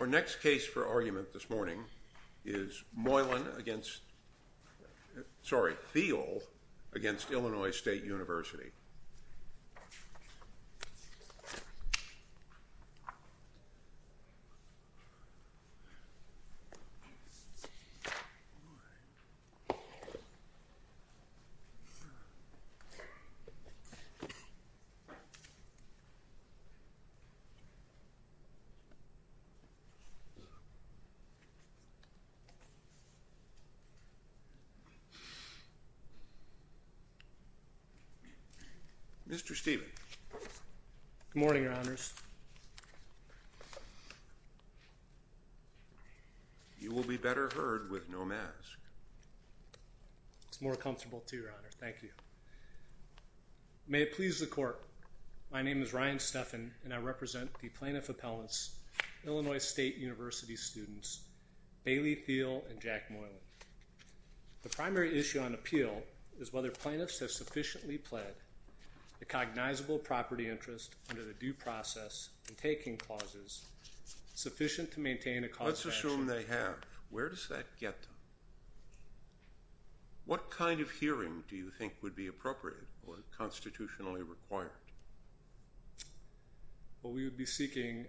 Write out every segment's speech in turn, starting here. Our next case for argument this morning is Thiel v. Illinois State University. Mr. Stephen. Good morning, Your Honors. You will be better heard with no mask. It's more comfortable to, Your Honor. Thank you. May it please the Court, my name is Ryan Stephan and I represent the plaintiff appellants, Illinois State University students, Bailey Thiel and Jack Moylan. The primary issue on appeal is whether plaintiffs have sufficiently pled the cognizable property interest under the due process in taking clauses sufficient to maintain a cause of action. Let's assume they have. Where does that get them? What kind of hearing do you think would be appropriate or constitutionally required? Well, we would be seeking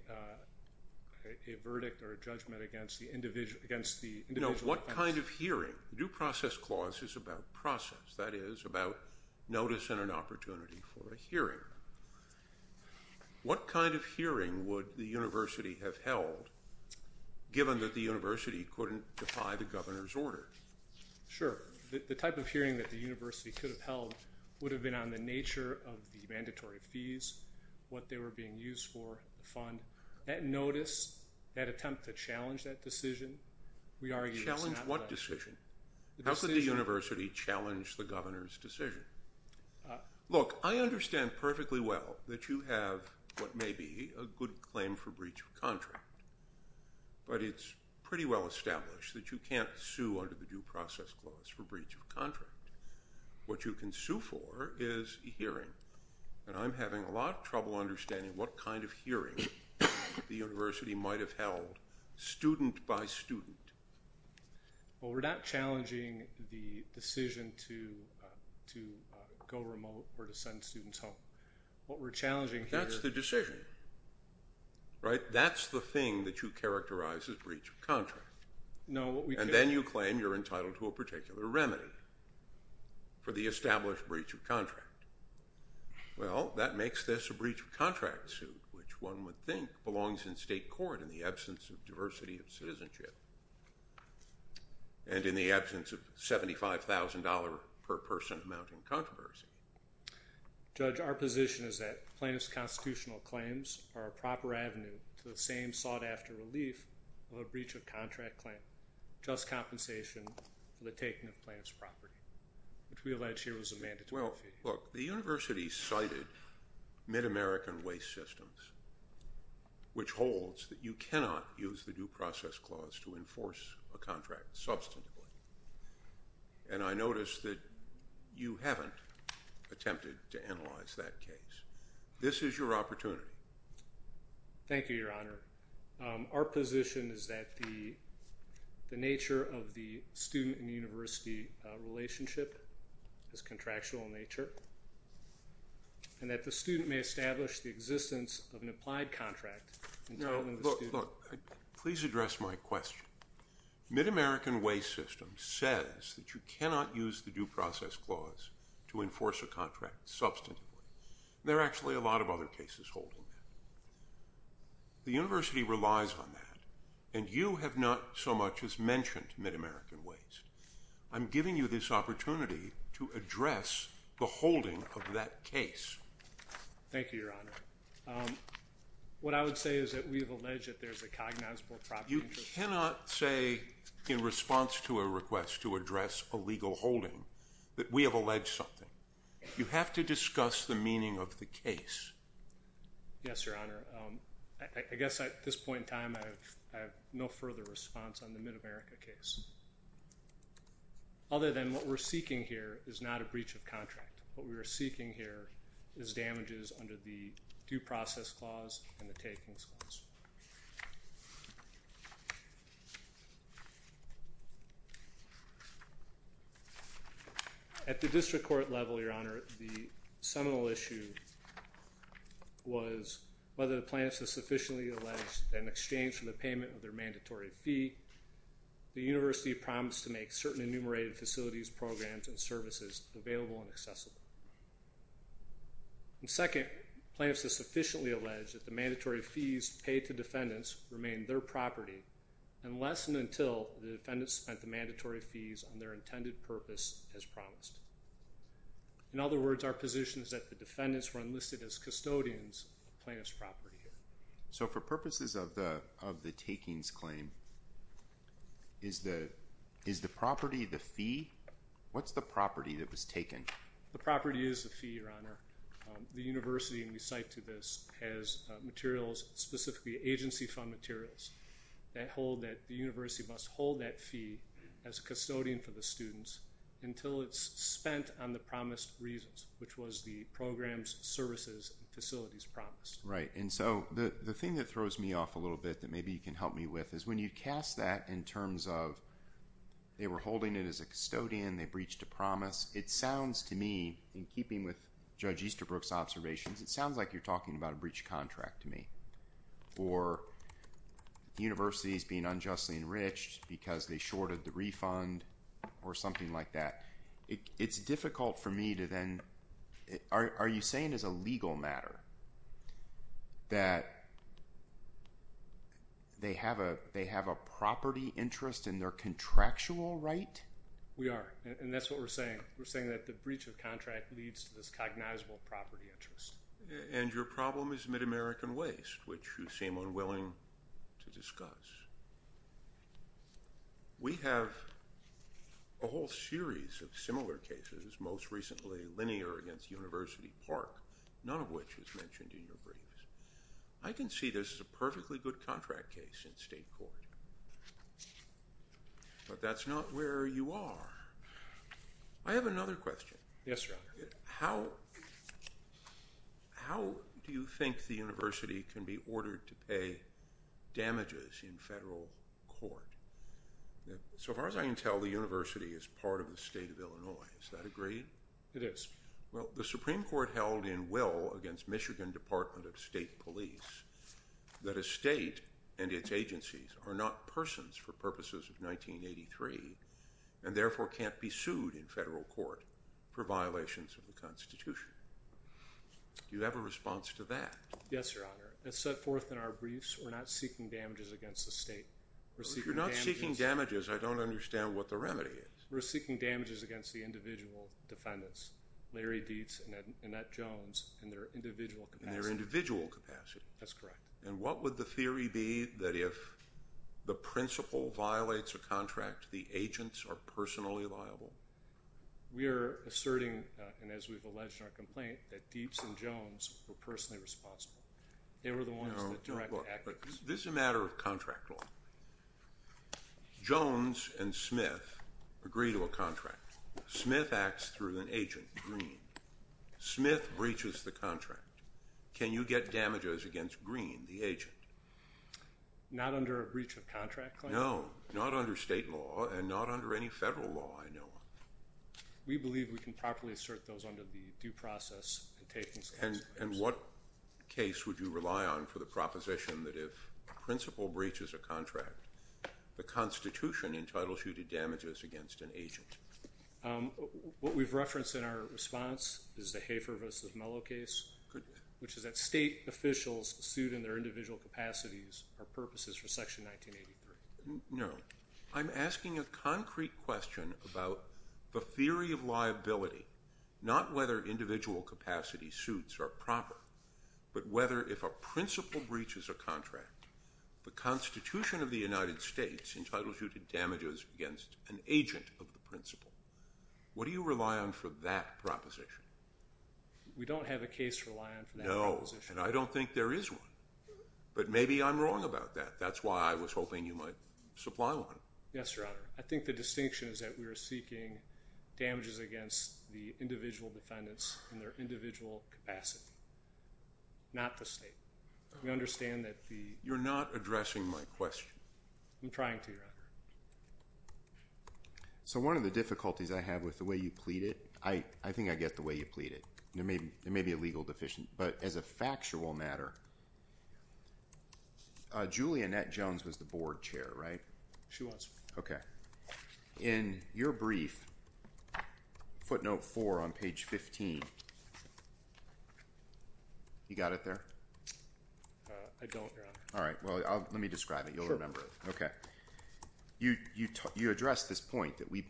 a verdict or a judgment against the individual defense. No, what kind of hearing? Due process clause is about process, that is about notice and an opportunity for a hearing. What kind of hearing would the university have held given that the university couldn't defy the governor's order? Sure. The type of hearing that the university could have held would have been on the nature of the mandatory fees, what they were being used for, the fund, that notice, that attempt to challenge that decision. Challenge what decision? How could the university challenge the governor's decision? Look, I understand perfectly well that you have what may be a good claim for breach of contract, but it's pretty well established that you can't sue under the due process clause for breach of contract. What you can sue for is a hearing, and I'm having a lot of trouble understanding what kind of hearing the university might have held student by student. Well, we're not challenging the decision to go remote or to send students home. What we're challenging here- That's the decision, right? That's the claim you're entitled to a particular remedy for the established breach of contract. Well, that makes this a breach of contract suit, which one would think belongs in state court in the absence of diversity of citizenship and in the absence of $75,000 per person amount in controversy. Judge, our position is that plaintiff's constitutional claims are a proper avenue to the same sought-after relief of a breach of contract claim, just compensation for the taking of plaintiff's property, which we allege here is a mandatory fee. Well, look, the university cited Mid-American Waste Systems, which holds that you cannot use the due process clause to enforce a contract substantively, and I notice that you haven't attempted to analyze that case. This is your opportunity. Thank you, Your Honor. Our position is that the nature of the student and university relationship is contractual in nature and that the student may establish the existence of an applied contract- No, look, please address my question. Mid-American Waste Systems says that you cannot use the due process clause to enforce a contract substantively. There are actually a lot of other cases holding that. The university relies on that, and you have not so much as mentioned Mid-American Waste. I'm giving you this opportunity to address the holding of that case. Thank you, Your Honor. What I would say is that we have alleged that there's a cognizable property- You cannot say in response to a request to address a legal holding that we have alleged something. You have to discuss the meaning of the case. Yes, Your Honor. I guess at this point in time, I have no further response on the Mid-America case other than what we're seeking here is not a breach of contract. What we were seeking here is damages under the due process clause. At the district court level, Your Honor, the seminal issue was whether the plaintiffs have sufficiently alleged that in exchange for the payment of their mandatory fee, the university promised to make certain enumerated facilities, programs, and services available and accessible. And second, plaintiffs have sufficiently alleged that the mandatory fees paid to defendants remain their property unless and until the defendants spent the mandatory fees on their intended purpose as promised. In other words, our position is that the defendants were enlisted as custodians of plaintiff's property. So for purposes of the takings claim, is the property the fee? What's the property that was taken? The property is the fee, Your Honor. The university, and we cite to this, has materials, specifically agency fund materials, that hold that fee as a custodian for the students until it's spent on the promised reasons, which was the programs, services, and facilities promised. Right, and so the thing that throws me off a little bit that maybe you can help me with is when you cast that in terms of they were holding it as a custodian, they breached a promise, it sounds to me, in keeping with Judge Easterbrook's observations, it sounds like you're talking about a breach of contract to me, or universities being unjustly enriched because they shorted the refund or something like that. It's difficult for me to then, are you saying as a legal matter that they have a property interest in their contractual right? We are, and that's what we're saying. We're saying that the breach of contract leads to this and your problem is Mid-American waste, which you seem unwilling to discuss. We have a whole series of similar cases, most recently linear against University Park, none of which is mentioned in your briefs. I can see this as a perfectly good contract case in state court, but that's not where you are. I have another question. Yes, your honor. How do you think the university can be ordered to pay damages in federal court? So far as I can tell, the university is part of the state of Illinois. Is that agreed? It is. Well, the Supreme Court held in will against Michigan Department of State Police that a state and its agencies are not persons for purposes of 1983 and therefore can't be sued in federal court for violations of the constitution. Do you have a response to that? Yes, your honor. As set forth in our briefs, we're not seeking damages against the state. If you're not seeking damages, I don't understand what the remedy is. We're seeking damages against the individual defendants, Larry Dietz and Annette Jones, in their individual capacity. In their individual capacity. That's correct. And what would the theory be that if the principal violates a contract, the agents are personally liable? We are asserting, and as we've alleged in our complaint, that Dietz and Jones were personally responsible. They were the ones that directed the actions. This is a matter of contract law. Jones and Smith agree to a contract. Smith acts through an agent, Green. Smith breaches the contract. Can you get damages against Green, the agent? Not under a breach of contract claim? No, not under state law and not under any federal law, I know of. We believe we can properly assert those under the due process. And what case would you rely on for the proposition that if a principal breaches a contract, the Constitution entitles you to damages against an agent? What we've referenced in our response is the Hafer v. Mello case, which is that state officials sued in their individual capacities for purposes for Section 1983. No, I'm asking a concrete question about the theory of liability, not whether individual capacity suits are proper, but whether if a principal breaches a contract, the Constitution of the United States entitles you to damages against an agent of the principal. What do you rely on for that proposition? We don't have a case to rely on for that proposition. No, and I don't think there is one. But maybe I'm wrong about that. That's why I was hoping you might supply one. Yes, Your Honor. I think the distinction is that we are seeking damages against the individual defendants in their individual capacity, not the state. We understand that the... You're not addressing my question. I'm trying to, Your Honor. So one of the difficulties I have with the way you plead it, I think I get the way you plead it. There may be a legal deficient. But as a factual matter, Julianette Jones was the board chair, right? She was. Okay. In your brief, footnote four on page 15, you got it there? I don't, Your Honor. All right. Well, let me describe it. You'll remember it. Okay. You addressed this point that we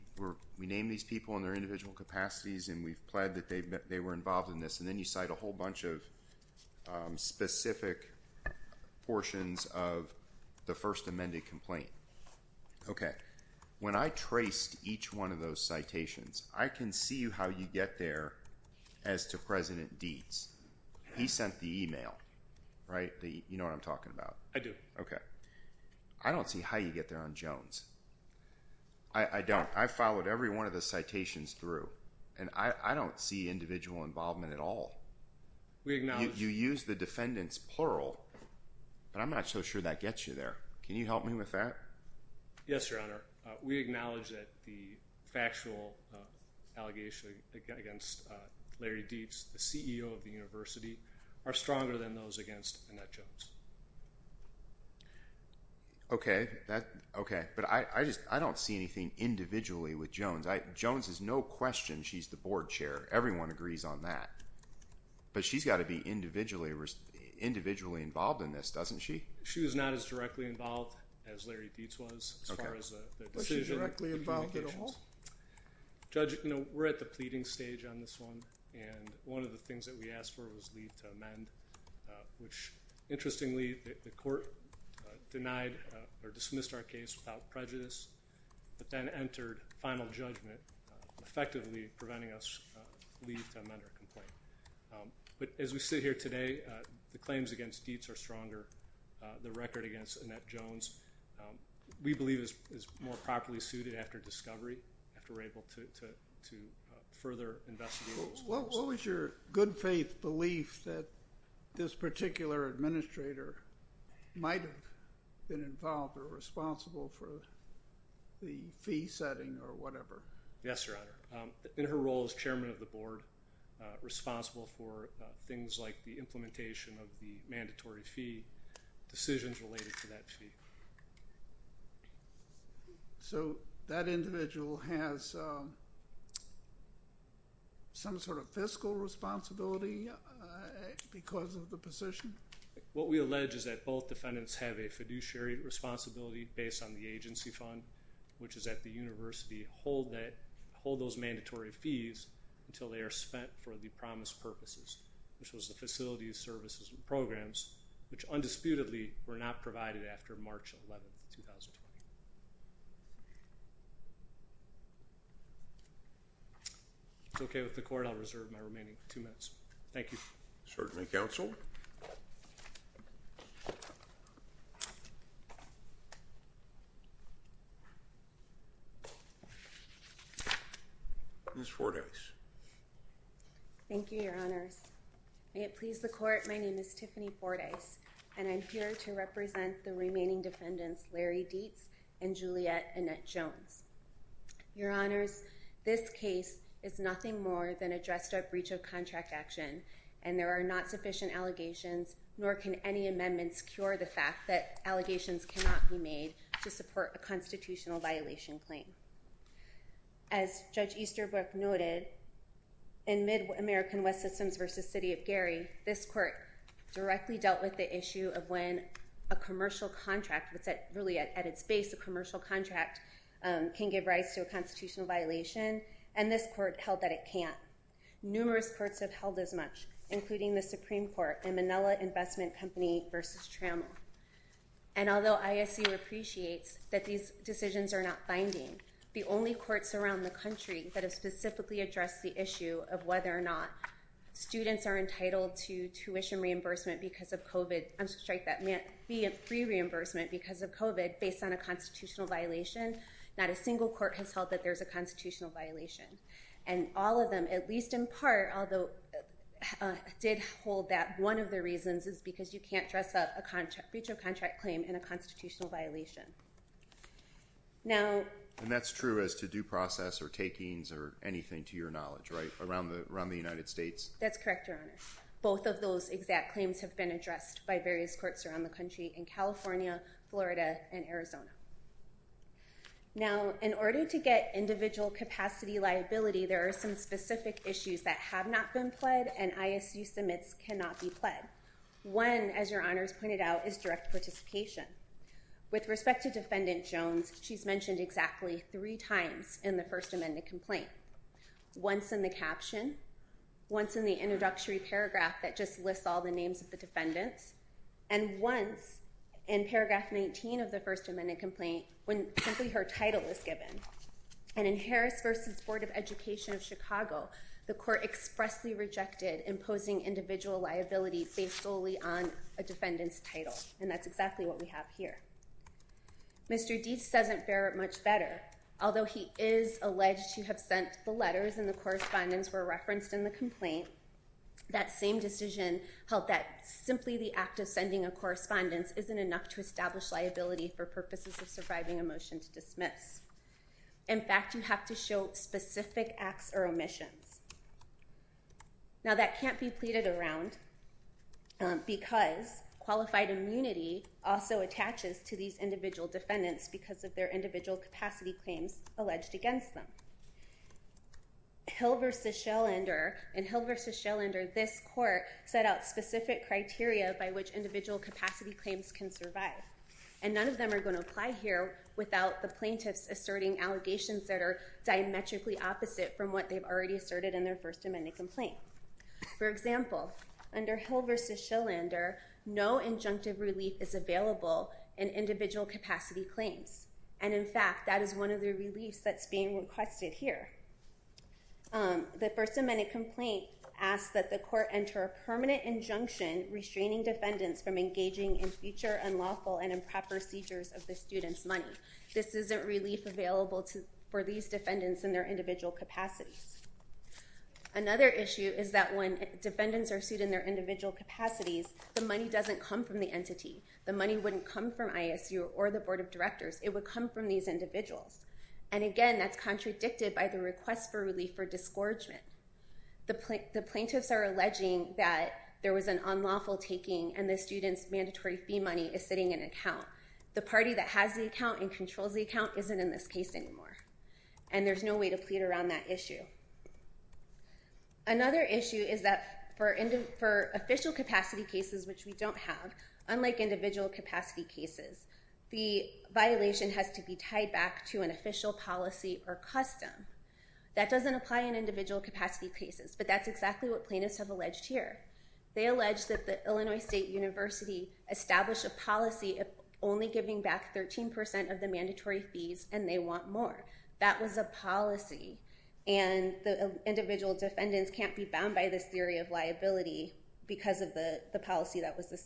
name these people in their individual capacities and we've pled that they were involved in this. And then you cite a whole bunch of specific portions of the first amended complaint. Okay. When I traced each one of those citations, I can see how you get there as to President Dietz. He sent the email, right? You know what I'm talking about? I do. Okay. I don't see how you get there on Jones. I don't. I followed every one of the citations through. And I don't see individual involvement at all. You use the defendants plural, but I'm not so sure that gets you there. Can you help me with that? Yes, Your Honor. We acknowledge that the factual allegation against Larry Dietz, the CEO of the university, are stronger than those against Annette Jones. Okay. But I don't see anything individually with Jones. Jones is no question she's the board chair. Everyone agrees on that. But she's got to be individually involved in this, doesn't she? She was not as directly involved as Larry Dietz was. Okay. But she's directly involved at all? Judge, you know, we're at the pleading stage on this one. And one of the things that we asked for was leave to amend, which interestingly, the court denied or dismissed our case without leave to amend our complaint. But as we sit here today, the claims against Dietz are stronger. The record against Annette Jones, we believe is more properly suited after discovery, after we're able to further investigate those claims. What was your good faith belief that this particular administrator might have been involved or responsible for the fee setting or responsible for things like the implementation of the mandatory fee, decisions related to that fee? So that individual has some sort of fiscal responsibility because of the position? What we allege is that both defendants have a fiduciary responsibility based on the agency fund, which is at the university, hold those mandatory fees until they are spent for the promised purposes, which was the facilities, services, and programs, which undisputedly were not provided after March 11th, 2020. It's okay with the court. I'll reserve my remaining two minutes. Thank you. Certainly counsel. Ms. Fordyce. Thank you, your honors. May it please the court, my name is Tiffany Fordyce, and I'm here to represent the remaining defendants, Larry Dietz and Juliet Annette Jones. Your honors, this case is nothing more than a dressed up breach of contract action, and there are not sufficient allegations, nor can any amendments cure the fact that allegations cannot be made to support a constitutional violation claim. As Judge Easterbrook noted, in mid American West systems versus city of Gary, this court directly dealt with the issue of when a commercial contract would set really at its base, a commercial contract can give rise to a constitutional violation, and this court held that it can't. Numerous courts have held as much, including the Supreme Court and Manila Investment Company versus Trammell. And although ISU appreciates that these decisions are not binding, the only courts around the country that have specifically addressed the issue of whether or not students are entitled to tuition reimbursement because of COVID, I'm sorry, free reimbursement because of COVID based on a constitutional violation, not a single court has held that there's a constitutional violation. And all of them, at least in part, although did hold that one of the reasons is because you can't dress up a contract, breach of contract claim in a constitutional violation. Now, and that's true as to due process or takings or anything to your knowledge, right? Around the United States? That's correct, your honor. Both of those exact claims have been addressed by various courts around the country in California, Florida, and Arizona. Now, in order to get individual capacity liability, there are some specific issues that have not been pled and ISU submits cannot be pled. One, as your honors pointed out, is direct participation. With respect to defendant Jones, she's mentioned exactly three times in the First Amendment complaint. Once in the caption, once in the introductory paragraph that just lists all the names of the defendants, and once in paragraph 19 of the First Amendment complaint when simply her title is given. And in Harris versus Board of Education of Chicago, the court expressly rejected imposing individual liability based solely on a defendant's title. And that's exactly what we have here. Mr. Deese doesn't bear it much better. Although he is alleged to have sent the letters and the of sending a correspondence isn't enough to establish liability for purposes of surviving a motion to dismiss. In fact, you have to show specific acts or omissions. Now, that can't be pleaded around because qualified immunity also attaches to these individual defendants because of their individual capacity claims alleged against them. Hill versus Schellender, in Hill versus Schellender, this court set out specific criteria by which individual capacity claims can survive. And none of them are going to apply here without the plaintiffs asserting allegations that are diametrically opposite from what they've already asserted in their First Amendment complaint. For example, under Hill versus Schellender, no injunctive relief is available in individual capacity claims. And in fact, that is one of the reliefs that's being requested here. The First Amendment complaint asks that the court enter a permanent injunction restraining defendants from engaging in future unlawful and improper seizures of the student's money. This isn't relief available for these defendants in their individual capacities. Another issue is that when defendants are sued in their individual capacities, the money doesn't come from the entity. The money wouldn't come from ISU or the individuals. And again, that's contradicted by the request for relief for disgorgement. The plaintiffs are alleging that there was an unlawful taking and the student's mandatory fee money is sitting in an account. The party that has the account and controls the account isn't in this case anymore. And there's no way to plead around that issue. Another issue is that for official capacity cases, which we don't have, unlike individual capacity cases, the official policy or custom, that doesn't apply in individual capacity cases. But that's exactly what plaintiffs have alleged here. They allege that the Illinois State University established a policy of only giving back 13% of the mandatory fees, and they want more. That was a policy. And the individual defendants can't be bound by this theory of liability because of the policy that was brought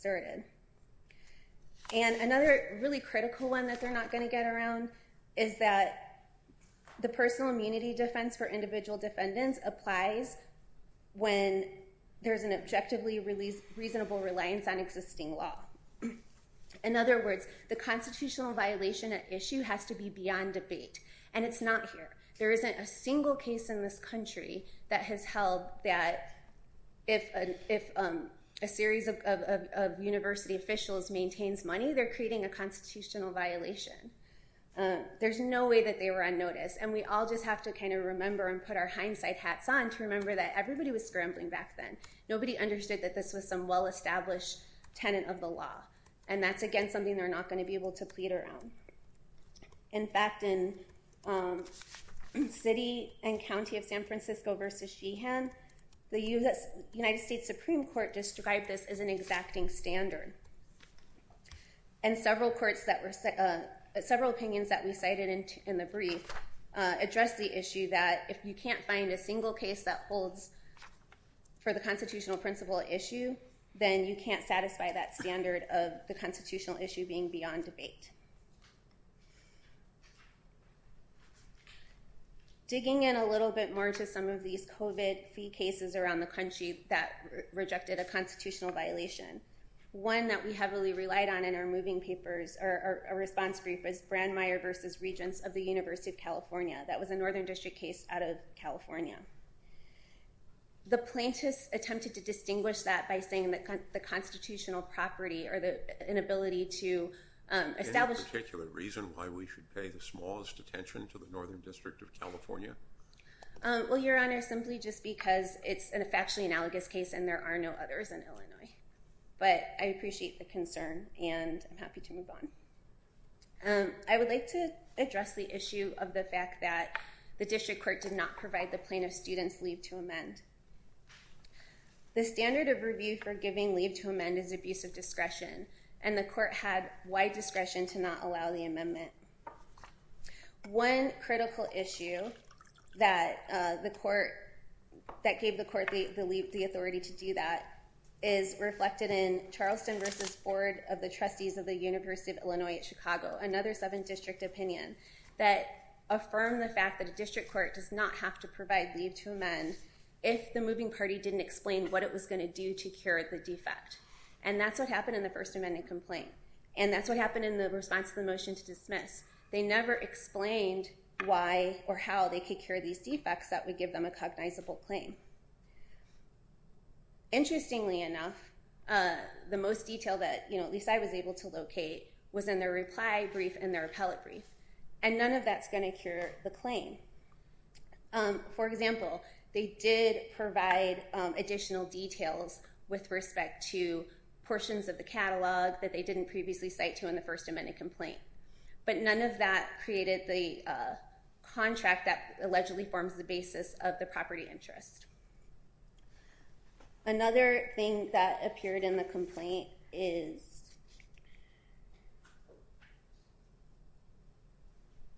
around, is that the personal immunity defense for individual defendants applies when there's an objectively reasonable reliance on existing law. In other words, the constitutional violation at issue has to be beyond debate. And it's not here. There isn't a single case in this country that has held that if a series of university officials maintains money, they're creating a constitutional violation. There's no way that they were unnoticed. And we all just have to kind of remember and put our hindsight hats on to remember that everybody was scrambling back then. Nobody understood that this was some well-established tenant of the law. And that's, again, something they're not going to be able to plead around. In fact, in city and county of San Francisco v. Sheehan, the United States Supreme Court described this as an exacting standard. And several opinions that we cited in the brief address the issue that if you can't find a single case that holds for the constitutional principle at issue, then you can't satisfy that standard of the constitutional issue being beyond debate. Digging in a little bit more to some of these COVID fee cases around the country that rejected a constitutional violation. One that we heavily relied on in our moving papers or a response brief is Brandmeier v. Regents of the University of California. That was a Northern District case out of California. The plaintiffs attempted to distinguish that by saying that the constitutional property or the inability to establish... Any particular reason why we should pay the smallest attention to the Northern District of California? Well, Your Honor, simply just because it's a factually analogous case and there are no others in Illinois. But I appreciate the concern and I'm happy to move on. I would like to address the issue of the fact that the district court did not provide the plaintiff students leave to amend. The standard of review for giving leave to amend is abuse of discretion and the court had wide discretion to not allow the amendment. One critical issue that the court... to do that is reflected in Charleston v. Board of the Trustees of the University of Illinois at Chicago, another 7th District opinion that affirmed the fact that a district court does not have to provide leave to amend if the moving party didn't explain what it was going to do to cure the defect. And that's what happened in the First Amendment complaint and that's what happened in the response to the motion to dismiss. They never explained why or how they could cure these defects that would give them a cognizable claim. Interestingly enough, the most detail that, you know, at least I was able to locate was in their reply brief and their appellate brief. And none of that's going to cure the claim. For example, they did provide additional details with respect to portions of the catalog that they didn't previously cite to in the First Amendment complaint. But none of that created the contract that allegedly forms the basis of the property interest. Another thing that appeared in the complaint is...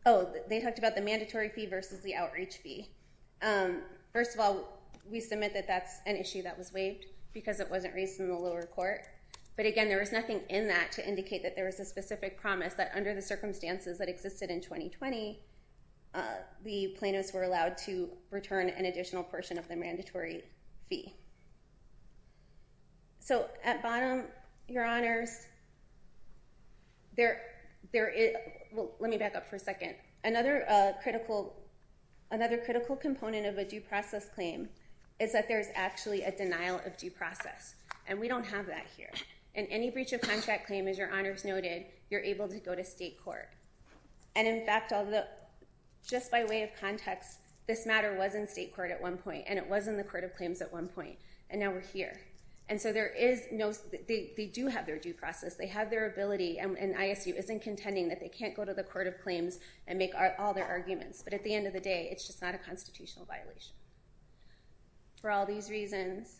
Oh, they talked about the mandatory fee versus the outreach fee. First of all, we submit that that's an issue that was waived because it wasn't raised in the lower court. But again, there was nothing in that to indicate that there was a specific promise that under the circumstances that existed in 2020, the plaintiffs were allowed to return an additional portion of the mandatory fee. So at bottom, your honors, there is... Well, let me back up for a second. Another critical component of a due process claim is that there's actually a denial of due process. And we don't have that here. In any breach of contract claim, as your honors noted, you're able to go to state court. And in fact, just by way of context, this matter was in state court at one point, and it was in the court of claims at one point. And now we're here. And so there is no... They do have their due process. They have their ability, and ISU isn't contending that they can't go to the court of claims and make all their arguments. But at the end of the day, it's just not a constitutional violation. For all these reasons,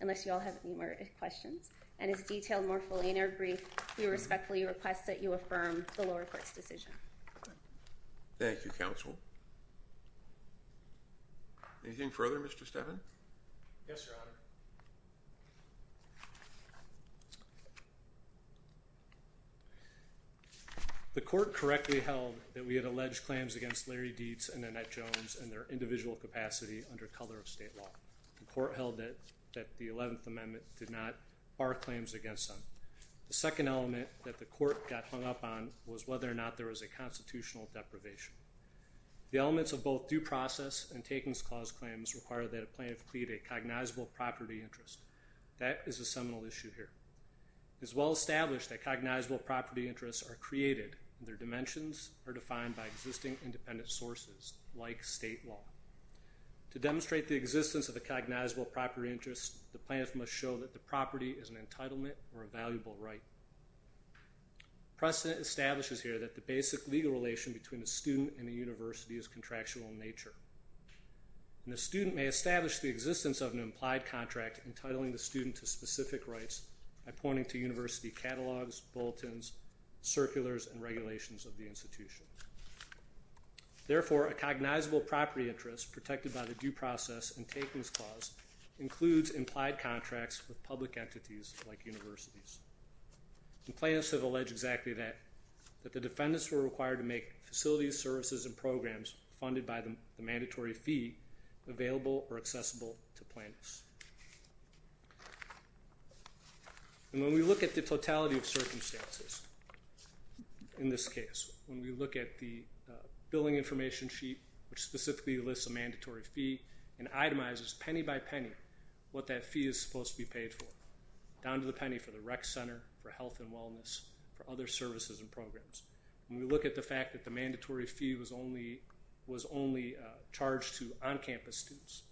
unless you all have any more questions and is detailed more fully in our brief, we respectfully request that you affirm the lower court's decision. Thank you, counsel. Anything further, Mr. Steven? Yes, your honor. The court correctly held that we had alleged claims against Larry Dietz and Annette Jones and their individual capacity under color of state law. The court held that the 11th did not bar claims against them. The second element that the court got hung up on was whether or not there was a constitutional deprivation. The elements of both due process and takings clause claims require that a plaintiff plead a cognizable property interest. That is a seminal issue here. It's well established that cognizable property interests are created, and their dimensions are defined by existing independent sources like state law. To demonstrate the property is an entitlement or a valuable right. Precedent establishes here that the basic legal relation between a student and a university is contractual in nature. The student may establish the existence of an implied contract entitling the student to specific rights by pointing to university catalogs, bulletins, circulars, and regulations of the institution. Therefore, a cognizable property interest protected by the due process and takings clause includes implied contracts with public entities like universities. The plaintiffs have alleged exactly that, that the defendants were required to make facilities, services, and programs funded by the mandatory fee available or accessible to plaintiffs. And when we look at the totality of circumstances in this case, when we look at the billing information sheet which specifically lists a mandatory fee and itemizes penny by penny what that fee is supposed to be paid for, down to the penny for the rec center, for health and wellness, for other services and programs. When we look at the fact that the mandatory fee was only was only charged to on-campus students.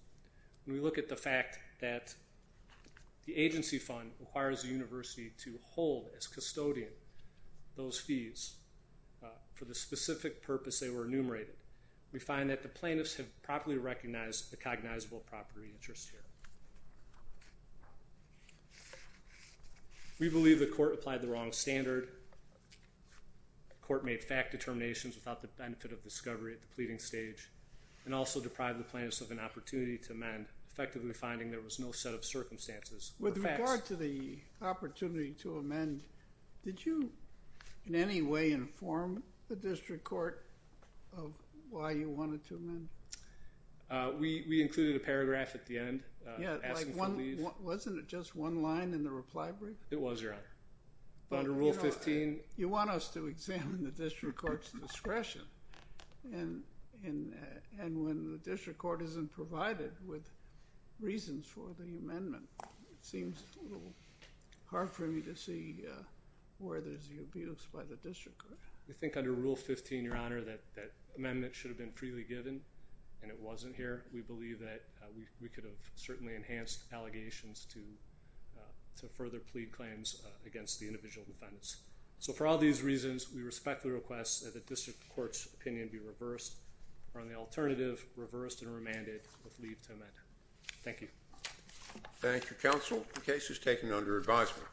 When we look at the fact that the agency fund requires the university to hold as custodian those fees for the specific purpose they were enumerated, we find that the plaintiffs have properly recognized the cognizable property interest here. We believe the court applied the wrong standard. The court made fact determinations without the benefit of discovery at the pleading stage and also deprived the plaintiffs of an opportunity to amend, effectively finding there was no set of circumstances. With regard to the opportunity to amend, did you in any way inform the district court of why you wanted to amend? We included a paragraph at the end asking for leave. Wasn't it just one line in the reply brief? It was your honor. But under rule 15. You want us to examine the district court's discretion and when the district court isn't provided with reasons for the amendment. It seems a little hard for me to see where there's the abuse by the district court. We think under rule 15 your honor that that amendment should have been freely given and it wasn't here. We believe that we could have certainly enhanced allegations to to further plead claims against the individual defendants. So for all these reasons we respect the request that the district court's opinion be reversed or on the alternative reversed and Thank you. Thank you counsel. The case is taken under advisement.